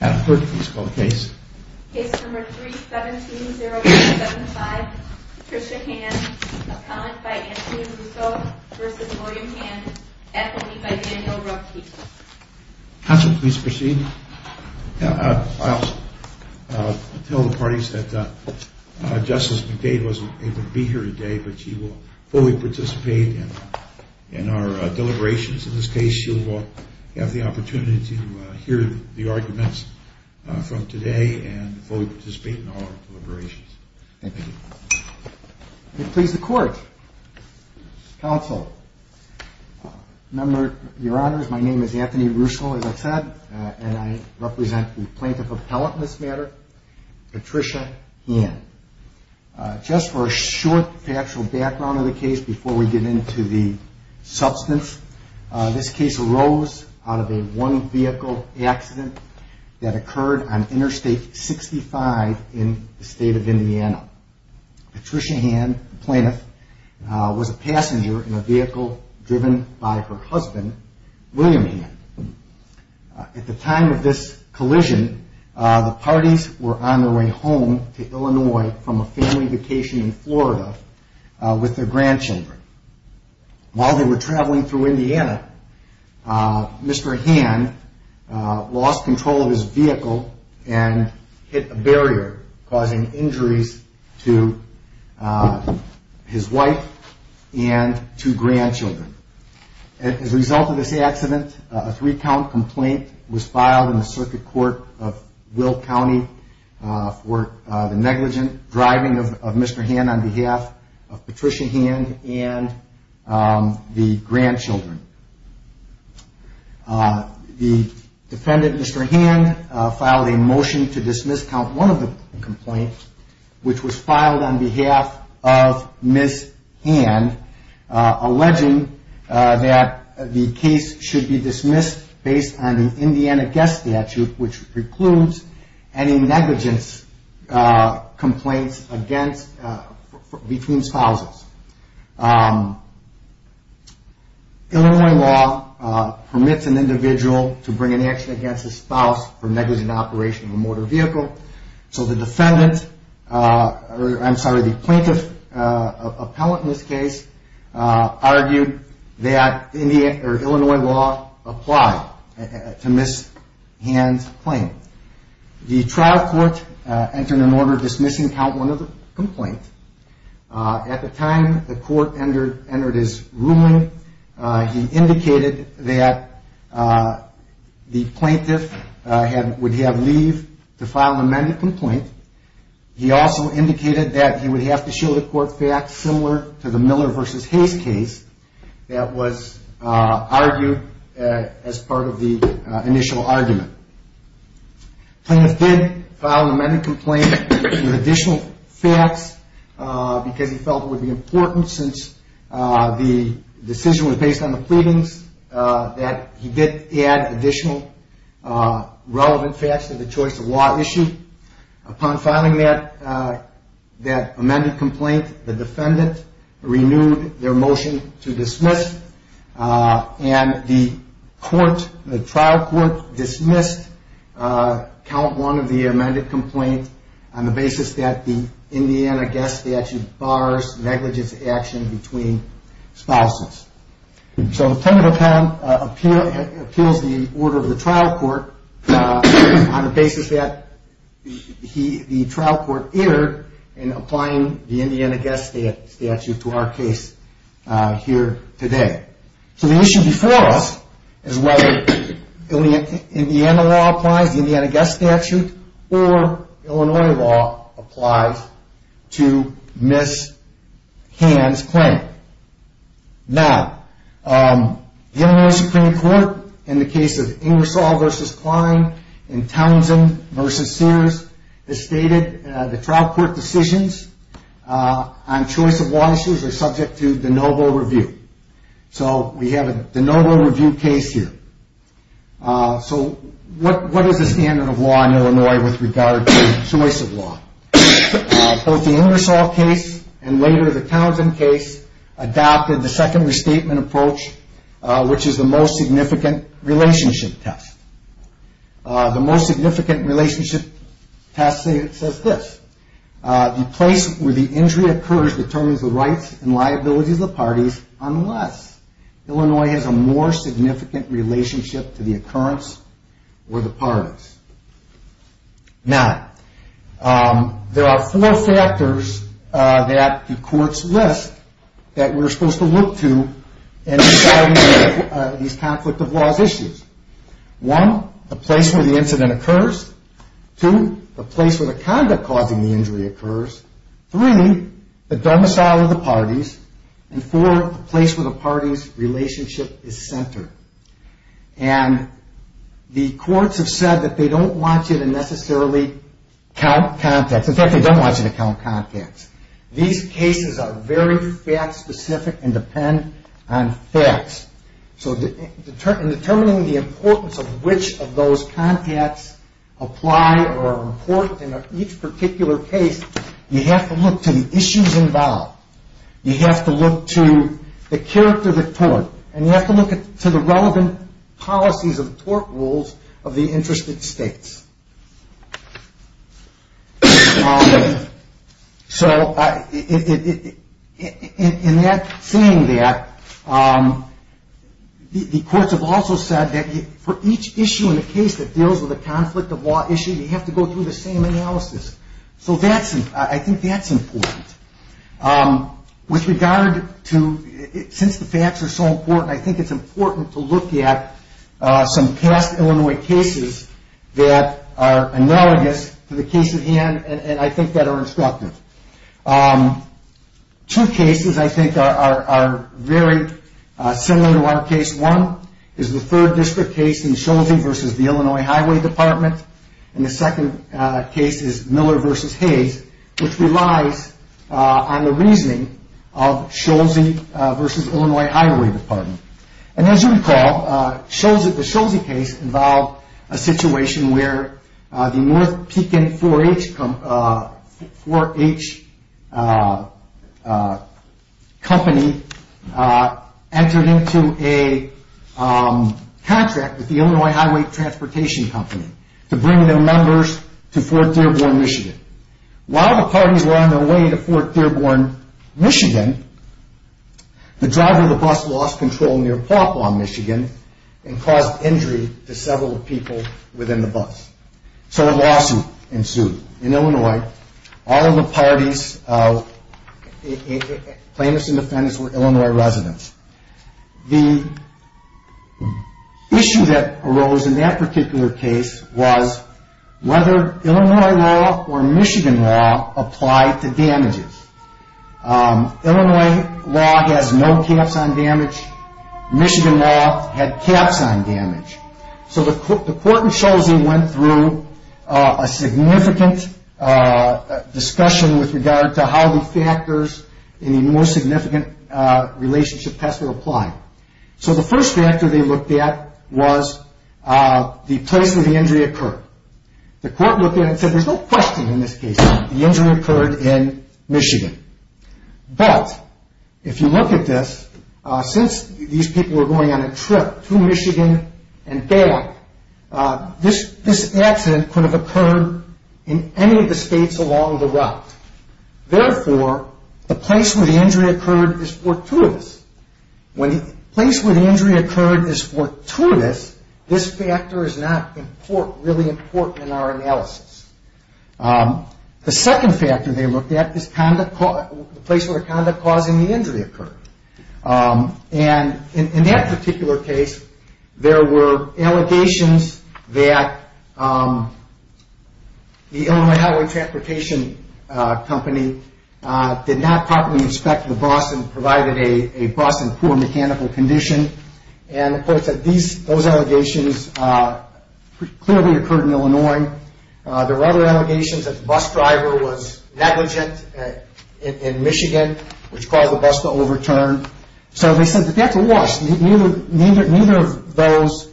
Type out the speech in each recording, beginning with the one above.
Adam Kirk, please call the case. Case number 3-17-0-1-75. Patricia Hand, a client by Anthony Russo v. William Hand, ethanine by Daniel Ruppke. Counsel, please proceed. I'll tell the parties that Justice McDade wasn't able to be here today, but she will fully participate in our deliberations. In this case, you'll have the opportunity to hear the arguments from today and fully participate in our deliberations. Thank you. Please, the court. Counsel. Your Honors, my name is Anthony Russo, as I said, and I represent the plaintiff appellate in this matter, Patricia Hand. Just for a short factual background of the case before we get into the substance, this case arose out of a one-vehicle accident that occurred on Interstate 65 in the state of Indiana. Patricia Hand, the plaintiff, was a passenger in a vehicle driven by her husband, William Hand. At the time of this collision, the parties were on their way home to Illinois from a family vacation in Florida with their grandchildren. While they were traveling through Indiana, Mr. Hand lost control of his vehicle and hit a barrier, causing injuries to his wife and two grandchildren. As a result of this accident, a three-count complaint was filed in the Circuit Court of Will County for the negligent driving of Mr. Hand on behalf of Patricia Hand and the grandchildren. The defendant, Mr. Hand, filed a motion to dismiss count one of the complaints, which was filed on behalf of Ms. Hand. The motion was dismissed based on the Indiana Guest Statute, which precludes any negligence complaints between spouses. Illinois law permits an individual to bring an action against a spouse for negligent operation of a motor vehicle, so the plaintiff appellant in this case argued that Illinois law applied to Ms. Hand's claim. The trial court entered an order dismissing count one of the complaints. At the time the court entered its ruling, he indicated that the plaintiff would have leave to file an amended complaint. He also indicated that he would have to show the court facts similar to the Miller v. Hayes case that was argued as part of the initial argument. The plaintiff did file an amended complaint with additional facts because he felt it would be important, since the decision was based on the pleadings, that he did add additional relevant facts to the choice of law issue. Upon filing that amended complaint, the defendant renewed their motion to dismiss, and the trial court dismissed count one of the amended complaint on the basis that the Indiana Guest Statute bars negligent action between spouses. The plaintiff appealed the order of the trial court on the basis that the trial court erred in applying the Indiana Guest Statute to our case here today. The issue before us is whether Indiana law applies, the Indiana Guest Statute, or Illinois law applies to Ms. Haynes' claim. Now, the Illinois Supreme Court, in the case of Ingersoll v. Klein and Townsend v. Sears, has stated the trial court decisions on choice of law issues are subject to de novo review. So we have a de novo review of Illinois with regard to choice of law. Both the Ingersoll case and later the Townsend case adopted the second restatement approach, which is the most significant relationship test. The most significant relationship test says this, the place where the injury occurs determines the rights and liabilities of the parties unless Illinois has a more significant relationship test. Now, there are four factors that the courts list that we're supposed to look to in deciding these conflict of laws issues. One, the place where the incident occurs. Two, the place where the conduct causing the injury occurs. Three, the domicile of the parties. And four, the place where the parties' relationship is necessarily count contacts. In fact, they don't want you to count contacts. These cases are very fact specific and depend on facts. So in determining the importance of which of those contacts apply or are important in each particular case, you have to look to the issues involved. You have to look to the character of the tort, and you have to look to the relevant policies of tort rules of the interested states. So in saying that, the courts have also said that for each issue in the case that deals with a conflict of law issue, you have to go through the same analysis. So I think that's important. With regard to, since the facts are so important, I think it's important to look at some past Illinois cases that are analogous to the case at hand, and I think that are instructive. Two cases I think are very similar to our case. One is the third district case in Schulte versus the Illinois Highway Department. And the second case is Miller versus Hayes, which relies on the reasoning of Schulze versus Illinois Highway Department. And as you recall, the Schulze case involved a situation where the North Pekin 4H company entered into a contract with the Illinois Highway Transportation Company to bring their members to Fort Dearborn, Michigan. While the parties were on their way to Fort Dearborn, Michigan, the driver of the bus lost control near Pawpaw, Michigan, and caused injury to several people within the bus. So a lawsuit ensued in Illinois. All of the parties plaintiffs and defendants were Illinois residents. The issue that arose in that particular case was whether Illinois law or Michigan law applied to damages. Illinois law has no caps on damage. Michigan law had caps on damage. So the court in Schulze went through a significant discussion with regard to how the factors in the most significant relationship tests were applied. So the first factor they looked at was the place where the injury occurred. The court looked at it and said there's no question in this case that the injury occurred in Michigan. But if you look at this, since these people were going on a trip to Michigan and back, this accident could have occurred in any of the states along the route. Therefore, the place where the injury occurred is fortuitous. When the place where the injury occurred is fortuitous, this factor is not really important in our analysis. The second factor they looked at is the place where the conduct causing the injury occurred. In that particular case, there were allegations that the Illinois Highway Transportation Company did not properly inspect the bus and provided a bus in poor mechanical condition. Those allegations clearly occurred in Illinois. There were other allegations that the bus driver was negligent in Michigan, which caused the bus to overturn. So they said that that's a loss. Neither of those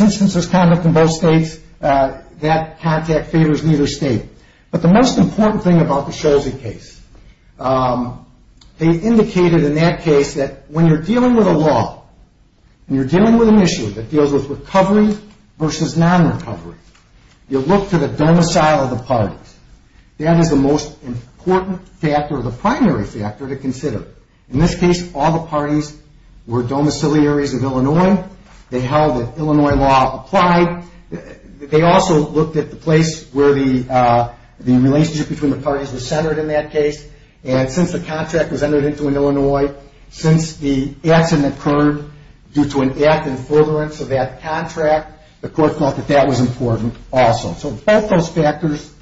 instances of conduct in both states, that contact favors neither state. But the most important thing about the Schulze case, they indicated in that case that when you're dealing with a law, when you're dealing with an issue that deals with recovery versus non-recovery, you look to the domicile of the parties. That is the most important factor, the primary factor to consider. In this case, all the parties were domiciliaries of Illinois. They held that Illinois law applied. They also looked at the place where the relationship between the parties was centered in that case. And since the contract was entered into in Illinois, since the accident occurred due to an act in forbearance of that contract, the court thought that that was important also. So both those factors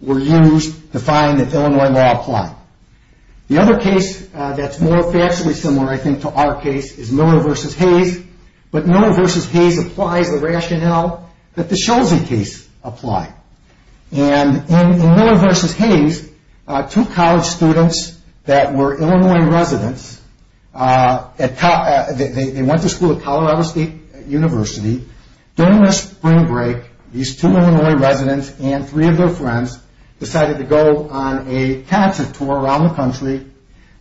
were used to find that Illinois law applied. The other case that's more factually similar, I think, to our case, is Miller v. Hayes. But Miller v. Hayes applies the rationale that the Schulze case applied. And in Miller v. Hayes, two college students that were Illinois residents, they went to school at Colorado State University. During their spring break, these two Illinois residents and three of their friends decided to go on a concert tour around the country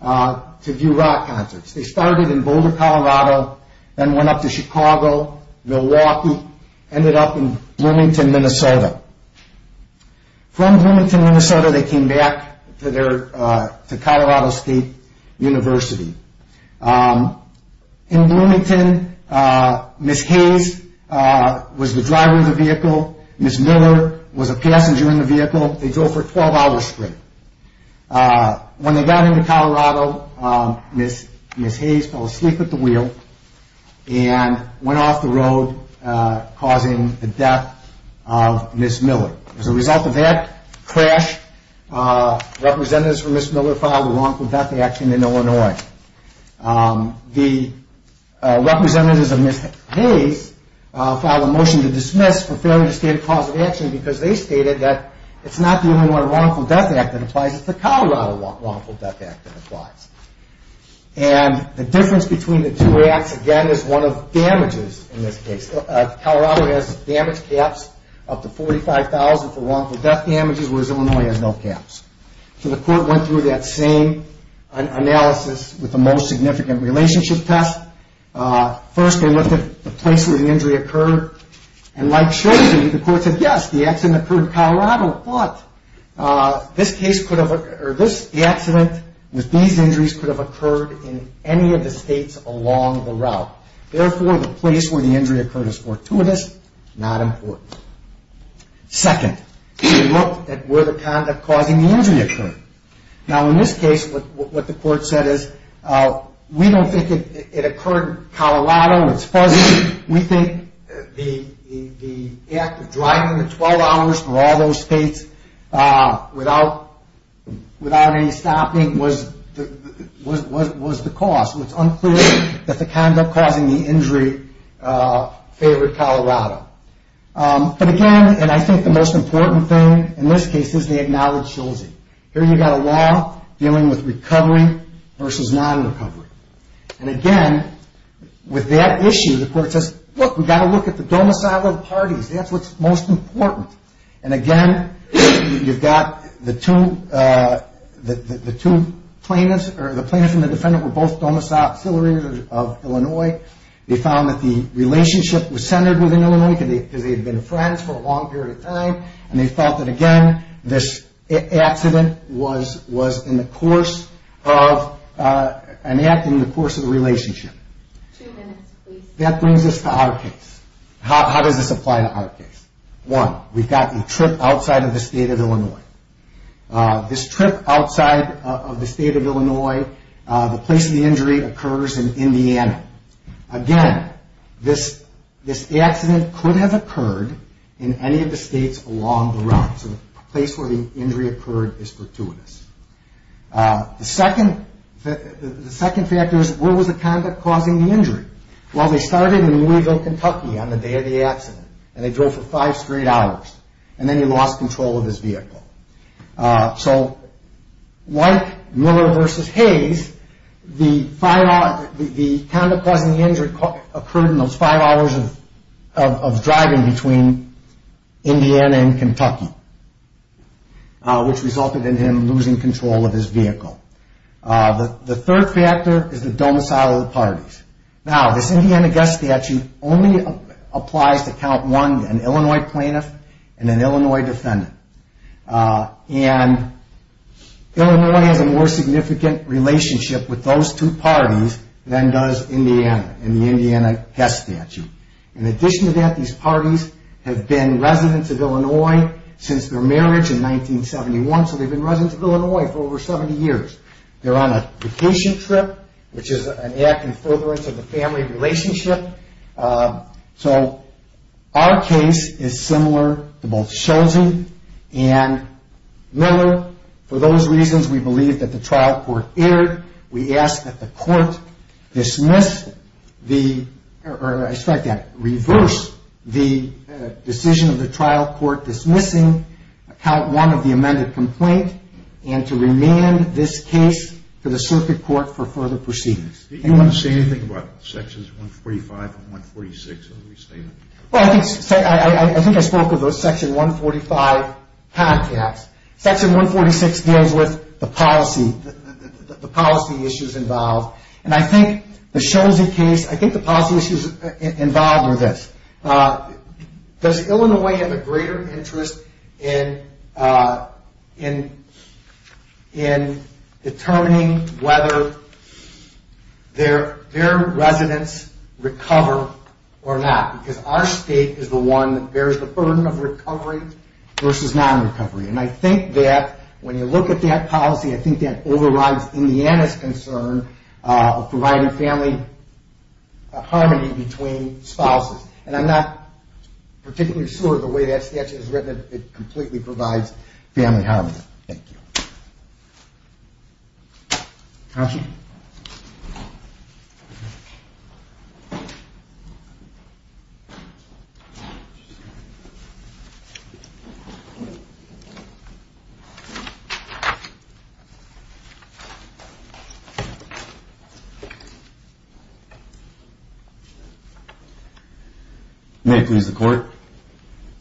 to view rock concerts. They started in Boulder, Colorado, then went up to Chicago, Milwaukee, ended up in Bloomington, Minnesota. From Bloomington, Minnesota, they came back to Colorado State University. In Bloomington, Ms. Hayes was the driver of the vehicle, Ms. Miller was a passenger in the vehicle. They drove for 12 hours straight. When they got into Colorado, Ms. Hayes fell asleep at the wheel and went off the road, causing the death of Ms. Miller. As a result of that crash, representatives for Ms. Miller filed a wrongful death action in Illinois. The representatives of Ms. Hayes filed a motion to dismiss for failure to state a cause of action because they stated that it's not the Illinois Wrongful Death Act that applies, it's the Colorado Wrongful Death Act that applies. And the difference between the two acts, again, is one of damages in this case. Colorado has damage caps up to $45,000 for wrongful death damages, whereas Illinois has no caps. So the court went through that same analysis with the most significant relationship test. First, they looked at the place where the injury occurred, and like Schlesing, the court said, yes, the accident occurred in Colorado, but this case could have occurred, or the accident with these injuries could have occurred in any of the states along the route. Therefore, the place where the injury occurred is fortuitous, not important. Second, they looked at where the conduct causing the injury occurred. Now, in this case, what the court said is, we don't think it occurred in Colorado, it's fuzzy. We think the act of driving the 12 hours for all those states without any stopping was the cause. It's unclear that the conduct causing the injury favored Colorado. But again, and I think the most important thing in this case is they acknowledged Schlesing. Here you've got a law dealing with recovery versus non-recovery. And again, with that issue, the court says, look, we've got to look at the domiciled parties. That's what's most important. And again, you've got the two plaintiffs, or the plaintiff and the defendant were both office auxiliaries of Illinois. They found that the relationship was centered within Illinois because they had been friends for a long period of time, and they felt that again, this accident was in the course of an act in the course of the relationship. That brings us to our case. How does this apply to our case? One, we've got a trip outside of the state of Illinois. This trip outside of the state of Illinois, the place of the injury occurs in Indiana. Again, this accident could have occurred in any of the states along the route. So the place where the injury occurred is fortuitous. The second factor is where was the conduct causing the injury? Well, they started in Louisville, Kentucky on the day of the accident, and they drove for five straight hours, and then he lost control of his vehicle. So like Miller v. Hayes, the conduct causing the injury occurred in those five hours of driving between Indiana and Kentucky, which resulted in him losing control of his vehicle. The third factor is the domicile of the parties. Now, this Indiana guest statute only applies to count one, an Illinois plaintiff and an Illinois defendant, and Illinois has a more significant relationship with those two parties than does Indiana in the Indiana guest statute. In addition to that, these parties have been residents of Illinois since their marriage in which is an act in furtherance of the family relationship. So our case is similar to both Schultz and Miller. For those reasons, we believe that the trial court erred. We ask that the court reverse the decision of the trial court dismissing count one of the amended complaint and to remand this case to the circuit court for further proceedings. Do you want to say anything about sections 145 and 146 of the restatement? Well, I think I spoke of those section 145 podcasts. Section 146 deals with the policy issues involved, and I think the policy issues involved are this. Does Illinois have a greater interest in determining whether their residents recover or not? Because our state is the one that bears the burden of recovery versus non-recovery, and I think that when you look at that policy, I think that overrides Indiana's concern of providing family harmony between spouses, and I'm not particularly sure of the way that statute is written. It completely provides for that. May I please the court?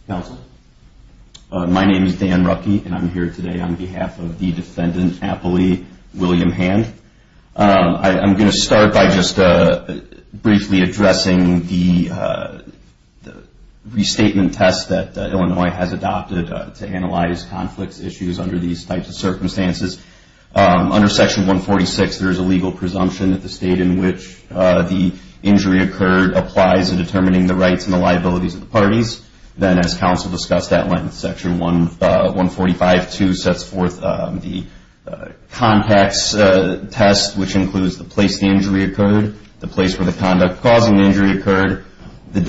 Counsel. My name is Dan Ruckey, and I'm here today on behalf of the defendant, Appley William Hand. I'm going to start by just briefly addressing the restatement test that Illinois has adopted to analyze conflicts, issues under these types of circumstances. Under section 146, there is a legal presumption that the state in which the injury occurred applies in determining the rights and the liabilities of the parties. Then, as counsel discussed at length, section 145.2 sets forth the contacts test, which includes the place the injury occurred, the place where the conduct causing the injury occurred, the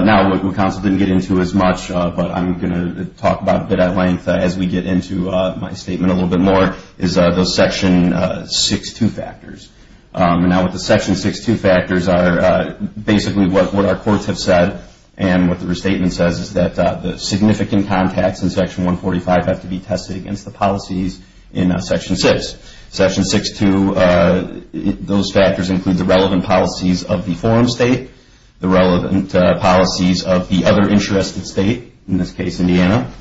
Now, what counsel didn't get into as much, but I'm going to talk about a bit at length as we get into my statement a little bit more, is those section 6.2 factors. Now, with the section 6.2 factors, basically what our courts have said, and what the restatement says, is that the significant contacts in section 145 have to be tested against the policies in section 6. Section 6.2, those factors include the relevant policies of the forum state, the relevant policies of the other interested state, in this case Indiana,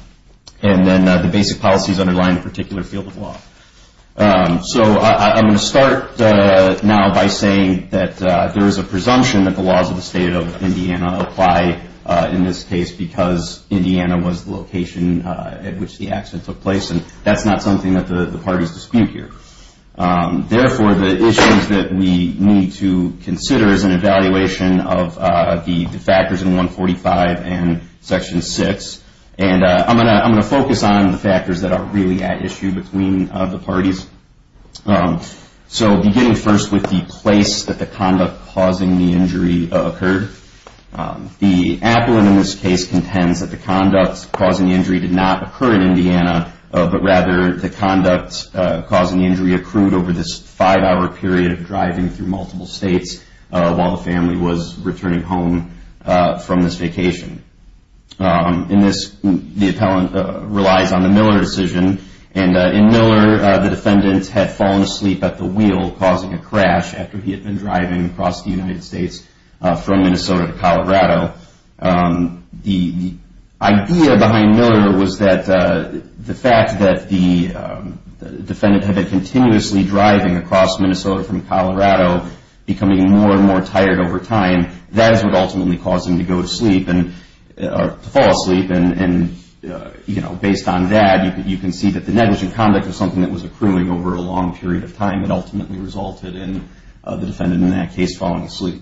and then the basic policies underlying a particular field of law. I'm going to start now by saying that there is a presumption that the laws of the state of Indiana apply in this case because Indiana was the location at which the accident took place, and that's not something that the parties dispute here. Therefore, the issues that we need to consider is an evaluation of the factors in 145 and section 6, and I'm going to focus on the factors that are really at issue between the parties. So, beginning first with the place that the conduct causing the injury occurred. The appellant in this case contends that the conduct causing the injury did not occur in Indiana, but rather the conduct causing the injury accrued over this five-hour period of driving through multiple states while the family was returning home from this vacation. The appellant relies on the Miller decision, and in Miller, the defendant had fallen asleep at the wheel causing a crash after he had been driving across the United States from Minnesota to Colorado. The idea behind Miller was that the fact that the defendant had been continuously driving across Minnesota from Colorado, becoming more and more tired over time, that is what ultimately caused him to go to sleep, or to fall asleep, and based on that, you can see that the negligent conduct was something that was accruing over a long period of time that ultimately resulted in the defendant in that case falling asleep.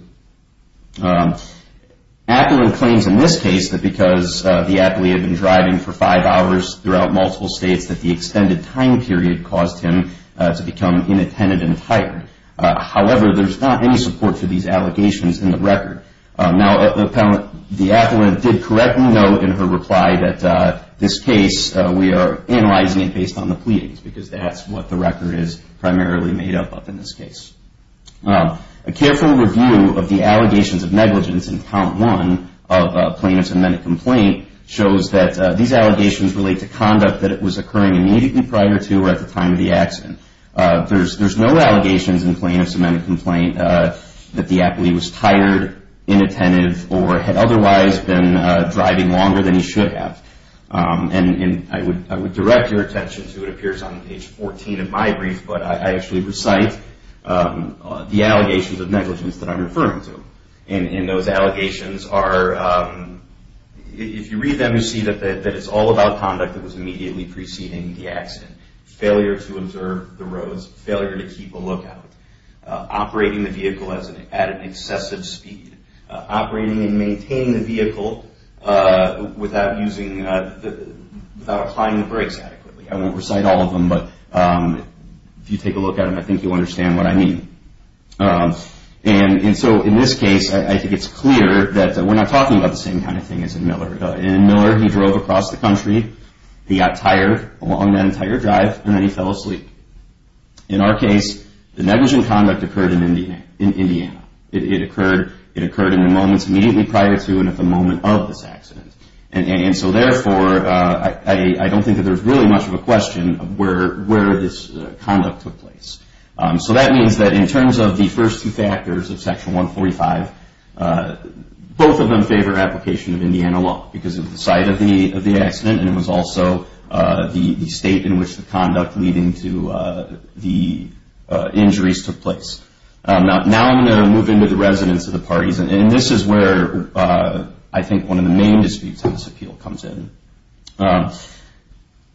Appellant claims in this case that because the appellate had been driving for five hours throughout multiple states that the extended time period caused him to become inattentive and tired. However, there's not any support for these allegations in the record. Now, the appellant did correctly note in her reply that this case, we are analyzing it based on the pleadings because that's what the record is primarily made up of in this case. A careful review of the allegations of negligence in Count 1 of plaintiff's amended complaint shows that these allegations relate to conduct that was occurring immediately prior to or at the time of the accident. There's no allegations in plaintiff's amended complaint that the appellee was tired, inattentive, or had otherwise been driving longer than he should have. And I would direct your attention to, it appears on page 14 of my brief, but I actually recite the allegations of negligence that I'm referring to. And those allegations are, if you read them, you see that it's all about conduct that was immediately preceding the accident. Failure to observe the roads, failure to keep a lookout, operating the vehicle at an excessive speed, operating and maintaining the vehicle without applying the brakes adequately. I won't recite all of them, but if you take a look at them, I think you'll understand what I mean. And so in this case, I think it's clear that we're not talking about the same kind of thing as in Miller. In Miller, he drove across the country, he got tired along that entire drive, and then he fell asleep. In our case, the negligent conduct occurred in Indiana. It occurred in the moments immediately prior to and at the moment of this accident. And so therefore, I don't think that there's really much of a question of where this conduct took place. So that means that in terms of the first two factors of Section 145, both of them favor application of Indiana law because of the site of the accident, and it was also the state in which the conduct leading to the injuries took place. Now I'm going to move into the residents of the parties, and this is where I think one of the main disputes on this appeal comes in.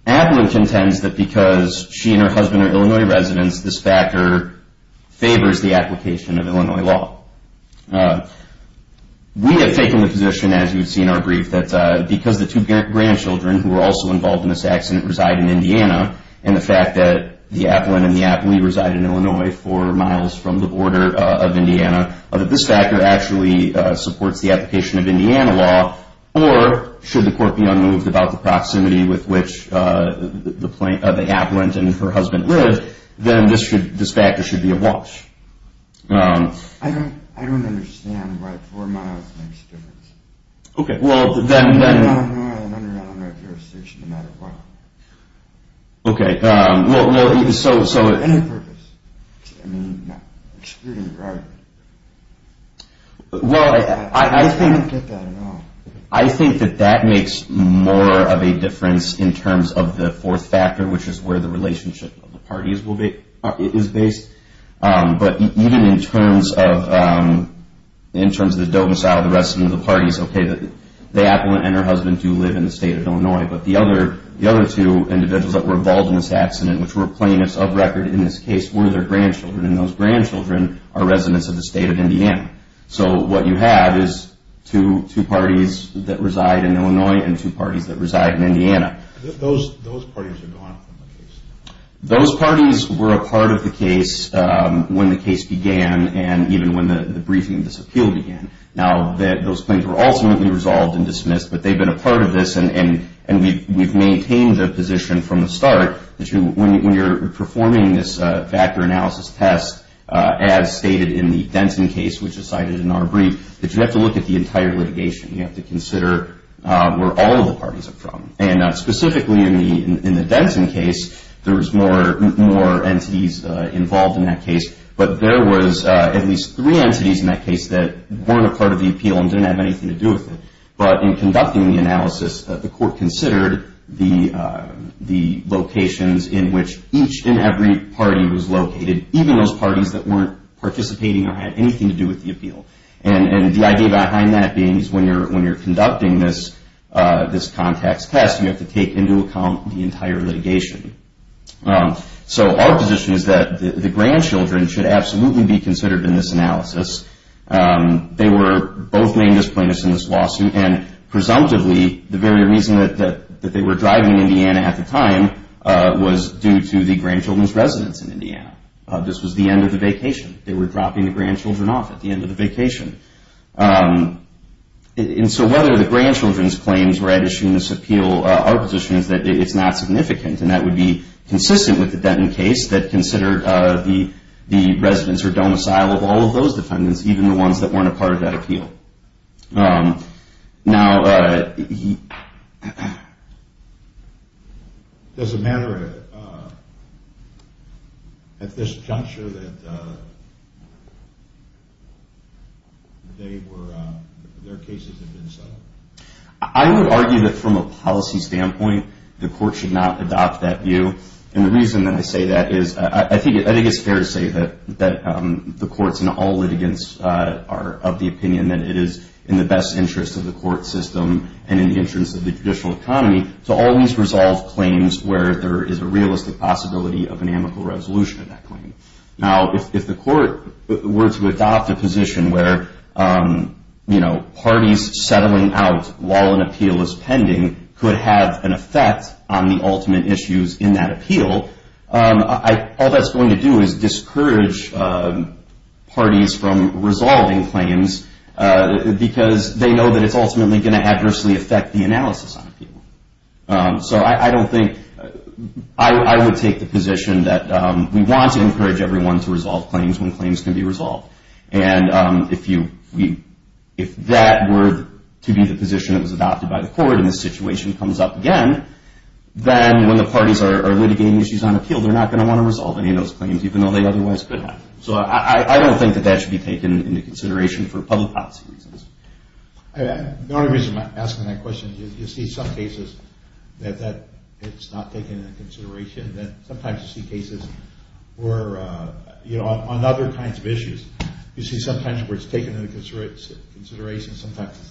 Applin contends that because she and her husband are Illinois residents, this factor favors the application of Illinois law. We have taken the position, as you would see in our brief, that because the two grandchildren who were also involved in this accident reside in Indiana, and the fact that the Applin and the Applee reside in Illinois four miles from the border of Indiana, that this factor actually supports the application of Indiana law, or should the court be unmoved about the proximity with which the Applin and her husband live, then this factor should be a watch. I don't understand why four miles makes a difference. I don't know if you're a citizen no matter what. Any purpose? Well, I think that that makes more of a difference in terms of the fourth factor, which is where the relationship of the parties is based, but even in terms of the domicile of the rest of the parties, okay, the Applin and her husband do live in the state of Illinois, but the other two individuals that were involved in this accident, which were plaintiffs of record in this case, were their grandchildren, and those grandchildren are residents of the state of Indiana. So what you have is two parties that reside in Illinois and two parties that reside in Indiana. Those parties are gone from the case? When the case began and even when the briefing of this appeal began. Now, those claims were ultimately resolved and dismissed, but they've been a part of this, and we've maintained the position from the start that when you're performing this factor analysis test, as stated in the Denson case, which is cited in our brief, that you have to look at the entire litigation. You have to consider where all of the parties are from. And specifically in the Denson case, there was more entities involved in that case, but there was at least three entities in that case that weren't a part of the appeal and didn't have anything to do with it. But in conducting the analysis, the court considered the locations in which each and every party was located, even those parties that weren't participating or had anything to do with the appeal. And the idea behind that being is when you're conducting this context test, you have to take into account the entire litigation. So our position is that the grandchildren should absolutely be considered in this analysis. They were both main disappointed in this lawsuit, and presumptively, the very reason that they were driving in Indiana at the time was due to the grandchildren's residence in Indiana. This was the end of the vacation. They were dropping the grandchildren off at the end of the vacation. And so whether the grandchildren's claims were at issue in this appeal, our position is that it's not significant, and that would be consistent with the Denson case that considered the residents or domicile of all of those defendants, even the ones that weren't a part of that appeal. Now, does it matter at this juncture that their cases have been settled? I would argue that from a policy standpoint, the court should not adopt that view. And the reason that I say that is, I think it's in all litigants' of the opinion that it is in the best interest of the court system and in the interest of the judicial economy to always resolve claims where there is a realistic possibility of an amical resolution of that claim. Now, if the court were to adopt a position where parties settling out while an appeal is pending could have an effect on the ultimate issues in that appeal, all that's going to do is discourage parties from resolving claims because they know that it's ultimately going to adversely affect the analysis on the appeal. So I don't think, I would take the position that we want to encourage everyone to resolve claims when claims can be resolved. And if that were to be the position that was put up again, then when the parties are litigating issues on appeal, they're not going to want to resolve any of those claims even though they otherwise could have. So I don't think that that should be taken into consideration for public policy reasons. The only reason I'm asking that question is you see some cases that it's not taken into consideration, that sometimes you see cases where, you know, on other kinds of issues, you see sometimes where it's taken into consideration, sometimes it's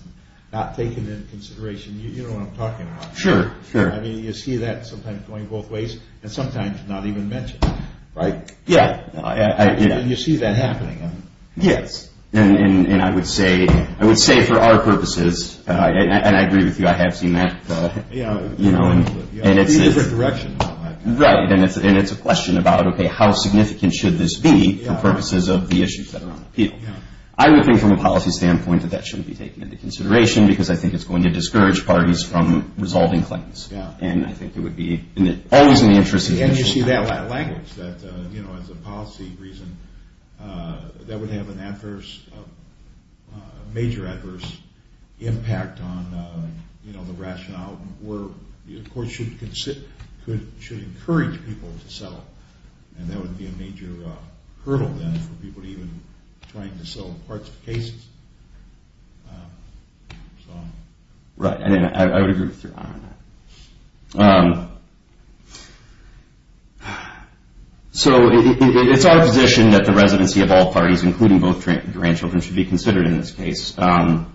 not taken into consideration. You know what I'm talking about. Sure. Sure. I mean, you see that sometimes going both ways and sometimes not even mentioned. Right. Yeah. You see that happening. Yes. And I would say, I would say for our purposes, and I agree with you, I have seen that, you know, and it's a question about, okay, how significant should this be for purposes of the issues that are on appeal. I would think from a policy standpoint that that shouldn't be taken into consideration because I think it's going to discourage parties from resolving claims. And I think it would be always in the interest of the interests of the parties. And you see that language that, you know, as a policy reason, that would have an adverse, major adverse impact on, you know, the rationale where the court should encourage people to settle. And that would be a major hurdle then for people to even trying to settle parts of cases. Right. I would agree with you on that. So it's our position that the residency of all parties, including both grandchildren, should be considered in this case. Not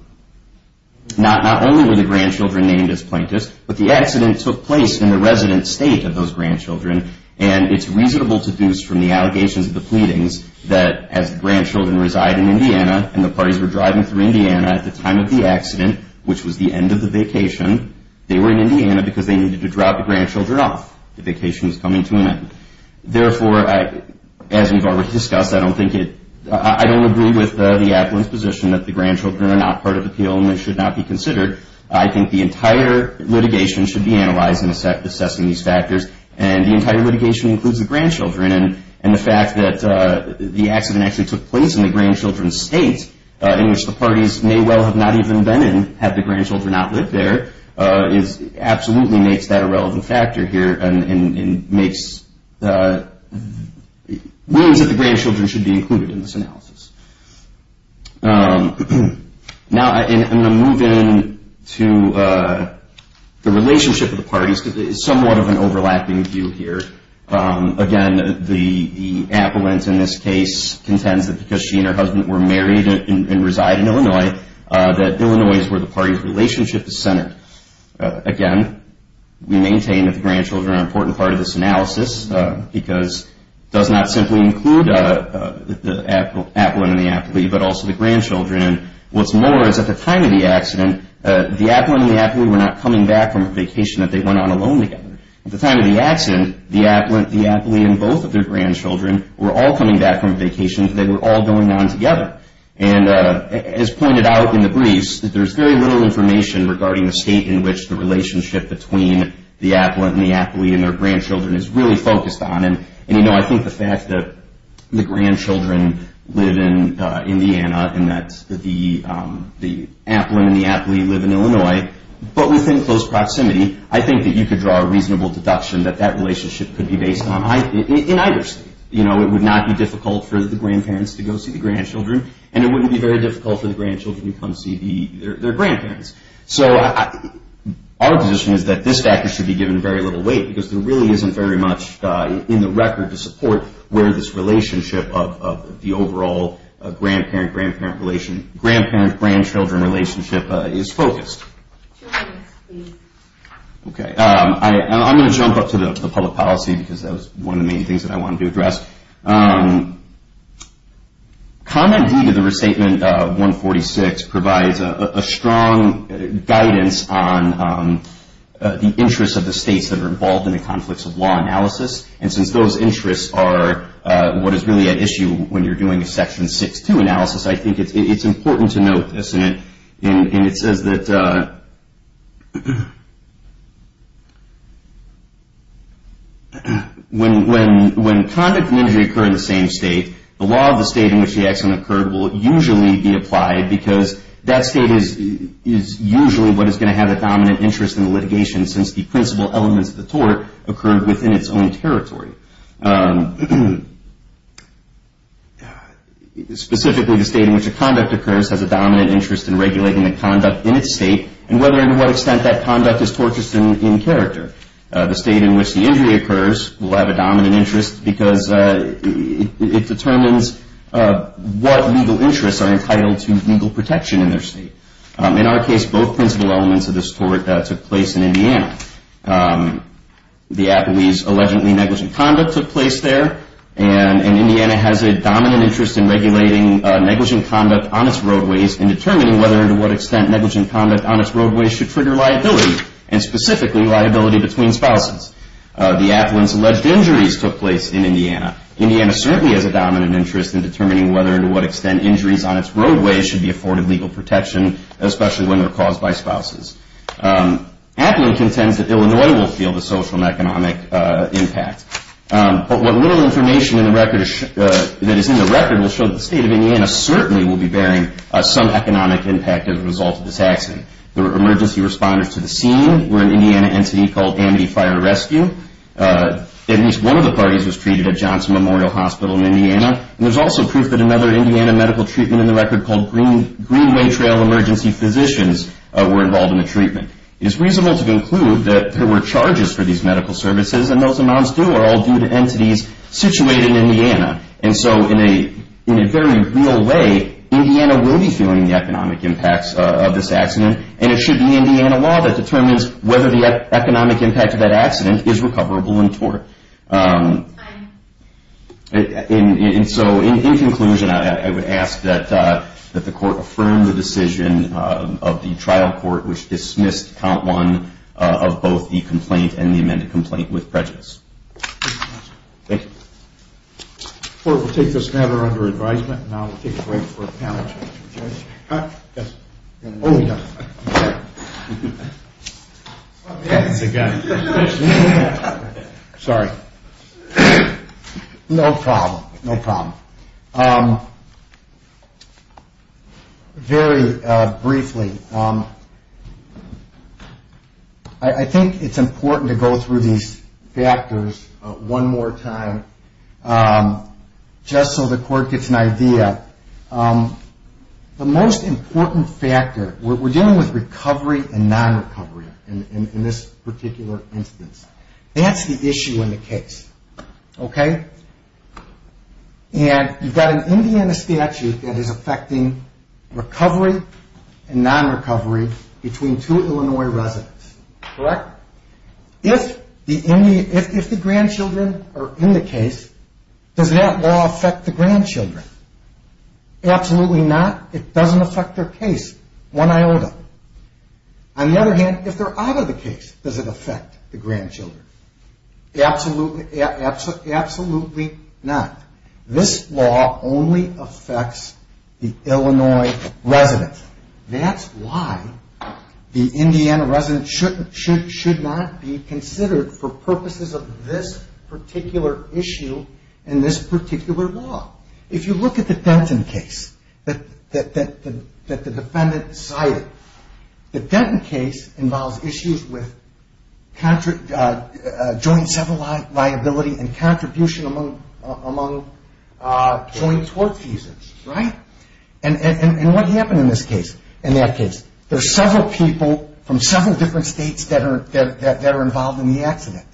only were the grandchildren named as plaintiffs, but the accident took place in the resident state of those grandchildren. And it's reasonable to deduce from the allegations of the pleadings that as the grandchildren reside in Indiana and the parties were driving through Indiana at the time of the accident, which was the end of the vacation, they were in Indiana because they needed to drop the grandchildren off. The vacation was coming to an end. Therefore, as we've already discussed, I don't think it, I don't agree with the appellant's position that the grandchildren are not part of the appeal and they should not be considered. I think the entire litigation should be analyzed in assessing these factors. And the entire litigation includes the grandchildren. And the fact that the accident actually took place in the grandchildren's state, in which the parties may well have not even been in, had the grandchildren not lived there, absolutely makes that a relevant factor here and makes, means that the grandchildren should be included in this analysis. Now, I'm going to move into the relationship of the parties because it's somewhat of an overlapping view here. Again, the appellant in this case contends that because she and her husband were married and reside in Illinois, that Illinois is where the party's relationship is centered. Again, we maintain that the grandchildren are an important part of this analysis because it does not simply include the appellant and the appellee, but also the grandchildren. What's more is at the time of the accident, the appellant and the appellee were not coming back from a vacation that they went on alone together. At the time of the accident, the appellant, the appellee, and both of their grandchildren were all coming back from vacation. There's very little information regarding the state in which the relationship between the appellant and the appellee and their grandchildren is really focused on. I think the fact that the grandchildren live in Indiana and that the appellant and the appellee live in Illinois, but within close proximity, I think that you could draw a reasonable deduction that that relationship could be based on either state. It would not be difficult for the grandparents to go see the grandchildren, and it wouldn't be very difficult for the grandchildren to come see their grandparents. Our position is that this factor should be given very little weight because there really isn't very much in the record to support where this relationship of the overall grandparent-grandparent relationship, grandparent-grandchildren relationship is focused. I'm going to go up to the public policy because that was one of the main things that I wanted to address. Comment D to the Restatement 146 provides a strong guidance on the interests of the states that are involved in the conflicts of law analysis. Since those interests are what is really at issue when you're doing a Section 6.2 analysis, I think it's important to note this. And it says that when conduct and injury occur in the same state, the law of the state in which the accident occurred will usually be applied because that state is usually what is going to have a dominant interest in the litigation since the principal elements of the tort occurred within its own territory. Specifically, the state in which a conduct occurs has a dominant interest in regulating the conduct in its state and whether and to what extent that conduct is tortious in character. The state in which the injury occurs will have a dominant interest because it determines what legal interests are entitled to legal protection in their state. In our case, both principal elements of this tort took place in Indiana. The Appalachee's allegedly negligent conduct took place there. And Indiana has a dominant interest in regulating negligent conduct on its roadways and determining whether and to what extent negligent conduct on its roadways should trigger liability and specifically liability between spouses. The Appalachee's alleged injuries took place in Indiana. Indiana certainly has a dominant interest in determining whether and to what extent injuries on its roadways should trigger liability. Appalachee contends that Illinois will feel the social and economic impact. But what little information that is in the record will show that the state of Indiana certainly will be bearing some economic impact as a result of this accident. The emergency responders to the scene were an Indiana entity called Amity Fire Rescue. At least one of the parties was treated at Johnson Memorial Hospital in Indiana. And there's also proof that another Indiana medical treatment in the record called Greenway Trail Emergency Physicians were involved in the treatment. It is reasonable to conclude that there were charges for these medical services and those amounts do all due to entities situated in Indiana. And so in a very real way, Indiana will be feeling the economic impacts of this accident. And it should be Indiana law that determines whether the economic impact of that accident is recoverable in tort. And so in conclusion, I would ask that the court affirm the decision of the trial court which dismissed count one of both the complaint and the amended complaint with prejudice. Thank you. Court will take this matter under advisement. Sorry. No problem. No problem. Very briefly, I think it's important to go through these factors one more time just so the court gets an idea. The most important factor, we're dealing with recovery and non-recovery in this particular instance. That's the issue in the case. Okay? And you've got an Indiana statute that is affecting recovery and non-recovery between two Illinois residents. Correct? If the grandchildren are in the case, does that law affect the grandchildren? Absolutely not. It doesn't affect their case. One iota. On the other hand, if they're out of the case, does it affect the grandchildren? Absolutely not. This law only affects the Illinois residents. That's why the Indiana resident should not be considered for purposes of this particular issue in this particular law. If you look at the Denton case that the defendant cited, the Denton case involves issues with joint civil liability and contribution among joint tort cases. Right? And what happened in this case, in that case? There's several people from several different states that are involved in the accident.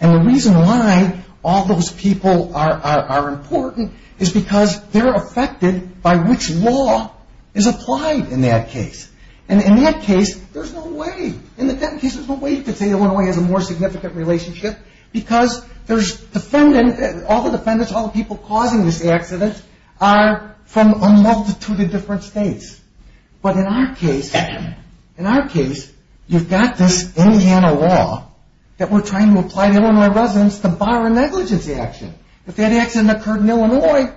And the reason why all those people are important is because they're affected by which law is applied in that case. And in that case, there's no way. In the Denton case, there's no way you could say Illinois has a more significant impact. The people causing this accident are from a multitude of different states. But in our case, you've got this Indiana law that we're trying to apply to Illinois residents to bar a negligence action. If that accident occurred in Illinois,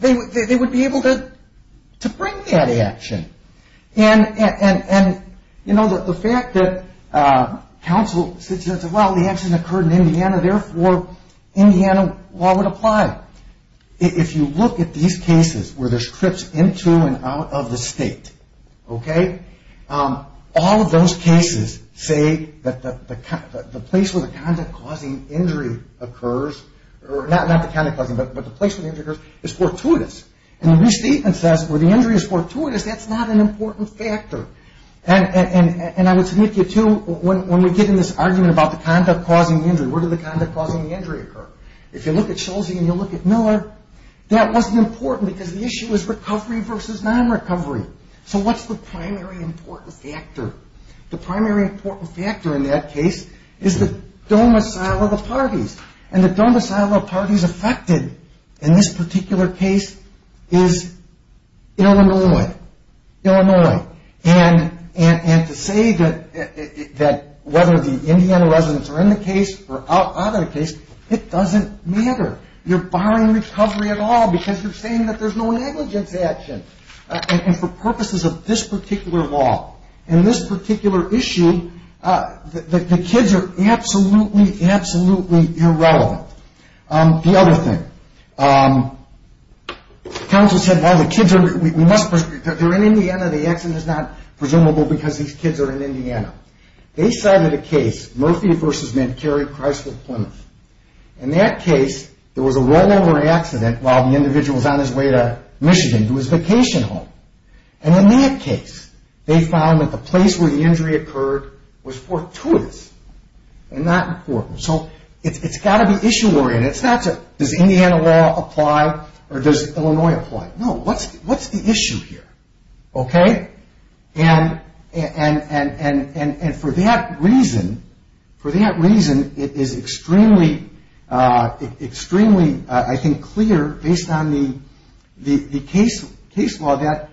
they would be able to bring that action. And the fact that counsel said, well, the accident occurred in Indiana, therefore, Indiana law would apply. If you look at these cases where there's trips into and out of the state, all of those cases say that the place where the conduct causing injury occurs, not the conduct causing, but the place where the injury occurs is fortuitous. And the restatement says where the injury is fortuitous, that's not an important factor. And I would submit to you, too, when we get into this argument about the conduct causing the injury, where did the conduct causing the injury occur? If you look at Schulze and you look at Miller, that wasn't important because the issue was recovery versus non-recovery. So what's the primary important factor? The primary important factor in that case is the domicile of the parties. And the domicile of parties affected in this particular case is Illinois. And to say that whether the Indiana residents are in the case or out of the case, it doesn't matter. You're barring recovery at all because you're saying that there's no negligence action. And for purposes of this particular law and this particular issue, the kids are absolutely, absolutely irrelevant. The other thing, counsel said, well, the kids are in Indiana, the accident is not presumable because these kids are in Indiana. They cited a case, Murphy versus Medcary, Chrysler, Plymouth. In that case, there was a rollover accident while the individual was on his way to Michigan to his vacation home. And in that case, they found that the place where the injury occurred was fortuitous and not important. So it's got to be issue oriented. It's not does Indiana law apply or does Illinois apply? No. What's the issue here? And for that reason, it is extremely, I think, clear based on the case law that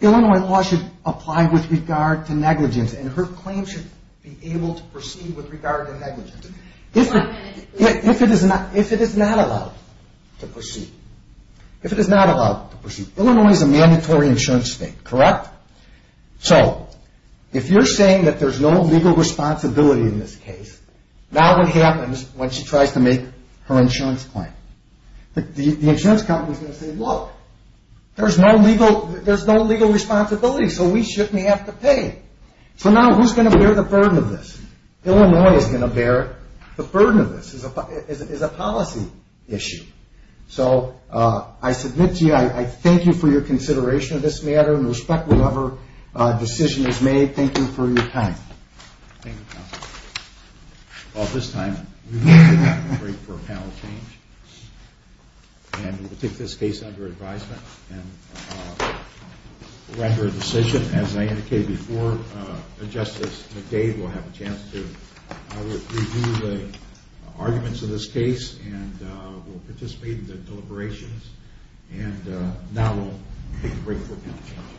Illinois law should apply with regard to negligence. And her claim should be able to proceed with regard to negligence. If it is not allowed to proceed. If it is not allowed to proceed. Illinois is a mandatory insurance state, correct? So if you're saying that there's no legal responsibility in this case, now what happens when she tries to make her insurance claim? The insurance company is going to say, look, there's no legal responsibility, so we shouldn't have to pay. So now who's going to bear the burden of this? Illinois is going to bear the burden of this. It's a policy issue. So I submit to you, I thank you for your consideration of this matter and respect whatever decision is made. Thank you for your time. Well, at this time, we're going to take a break for a panel change. And we'll take this case under advisement and render a decision. As I indicated before, Justice McDade will have a chance to review the arguments of this case and will participate in the deliberations. And now we'll take a break for a panel change.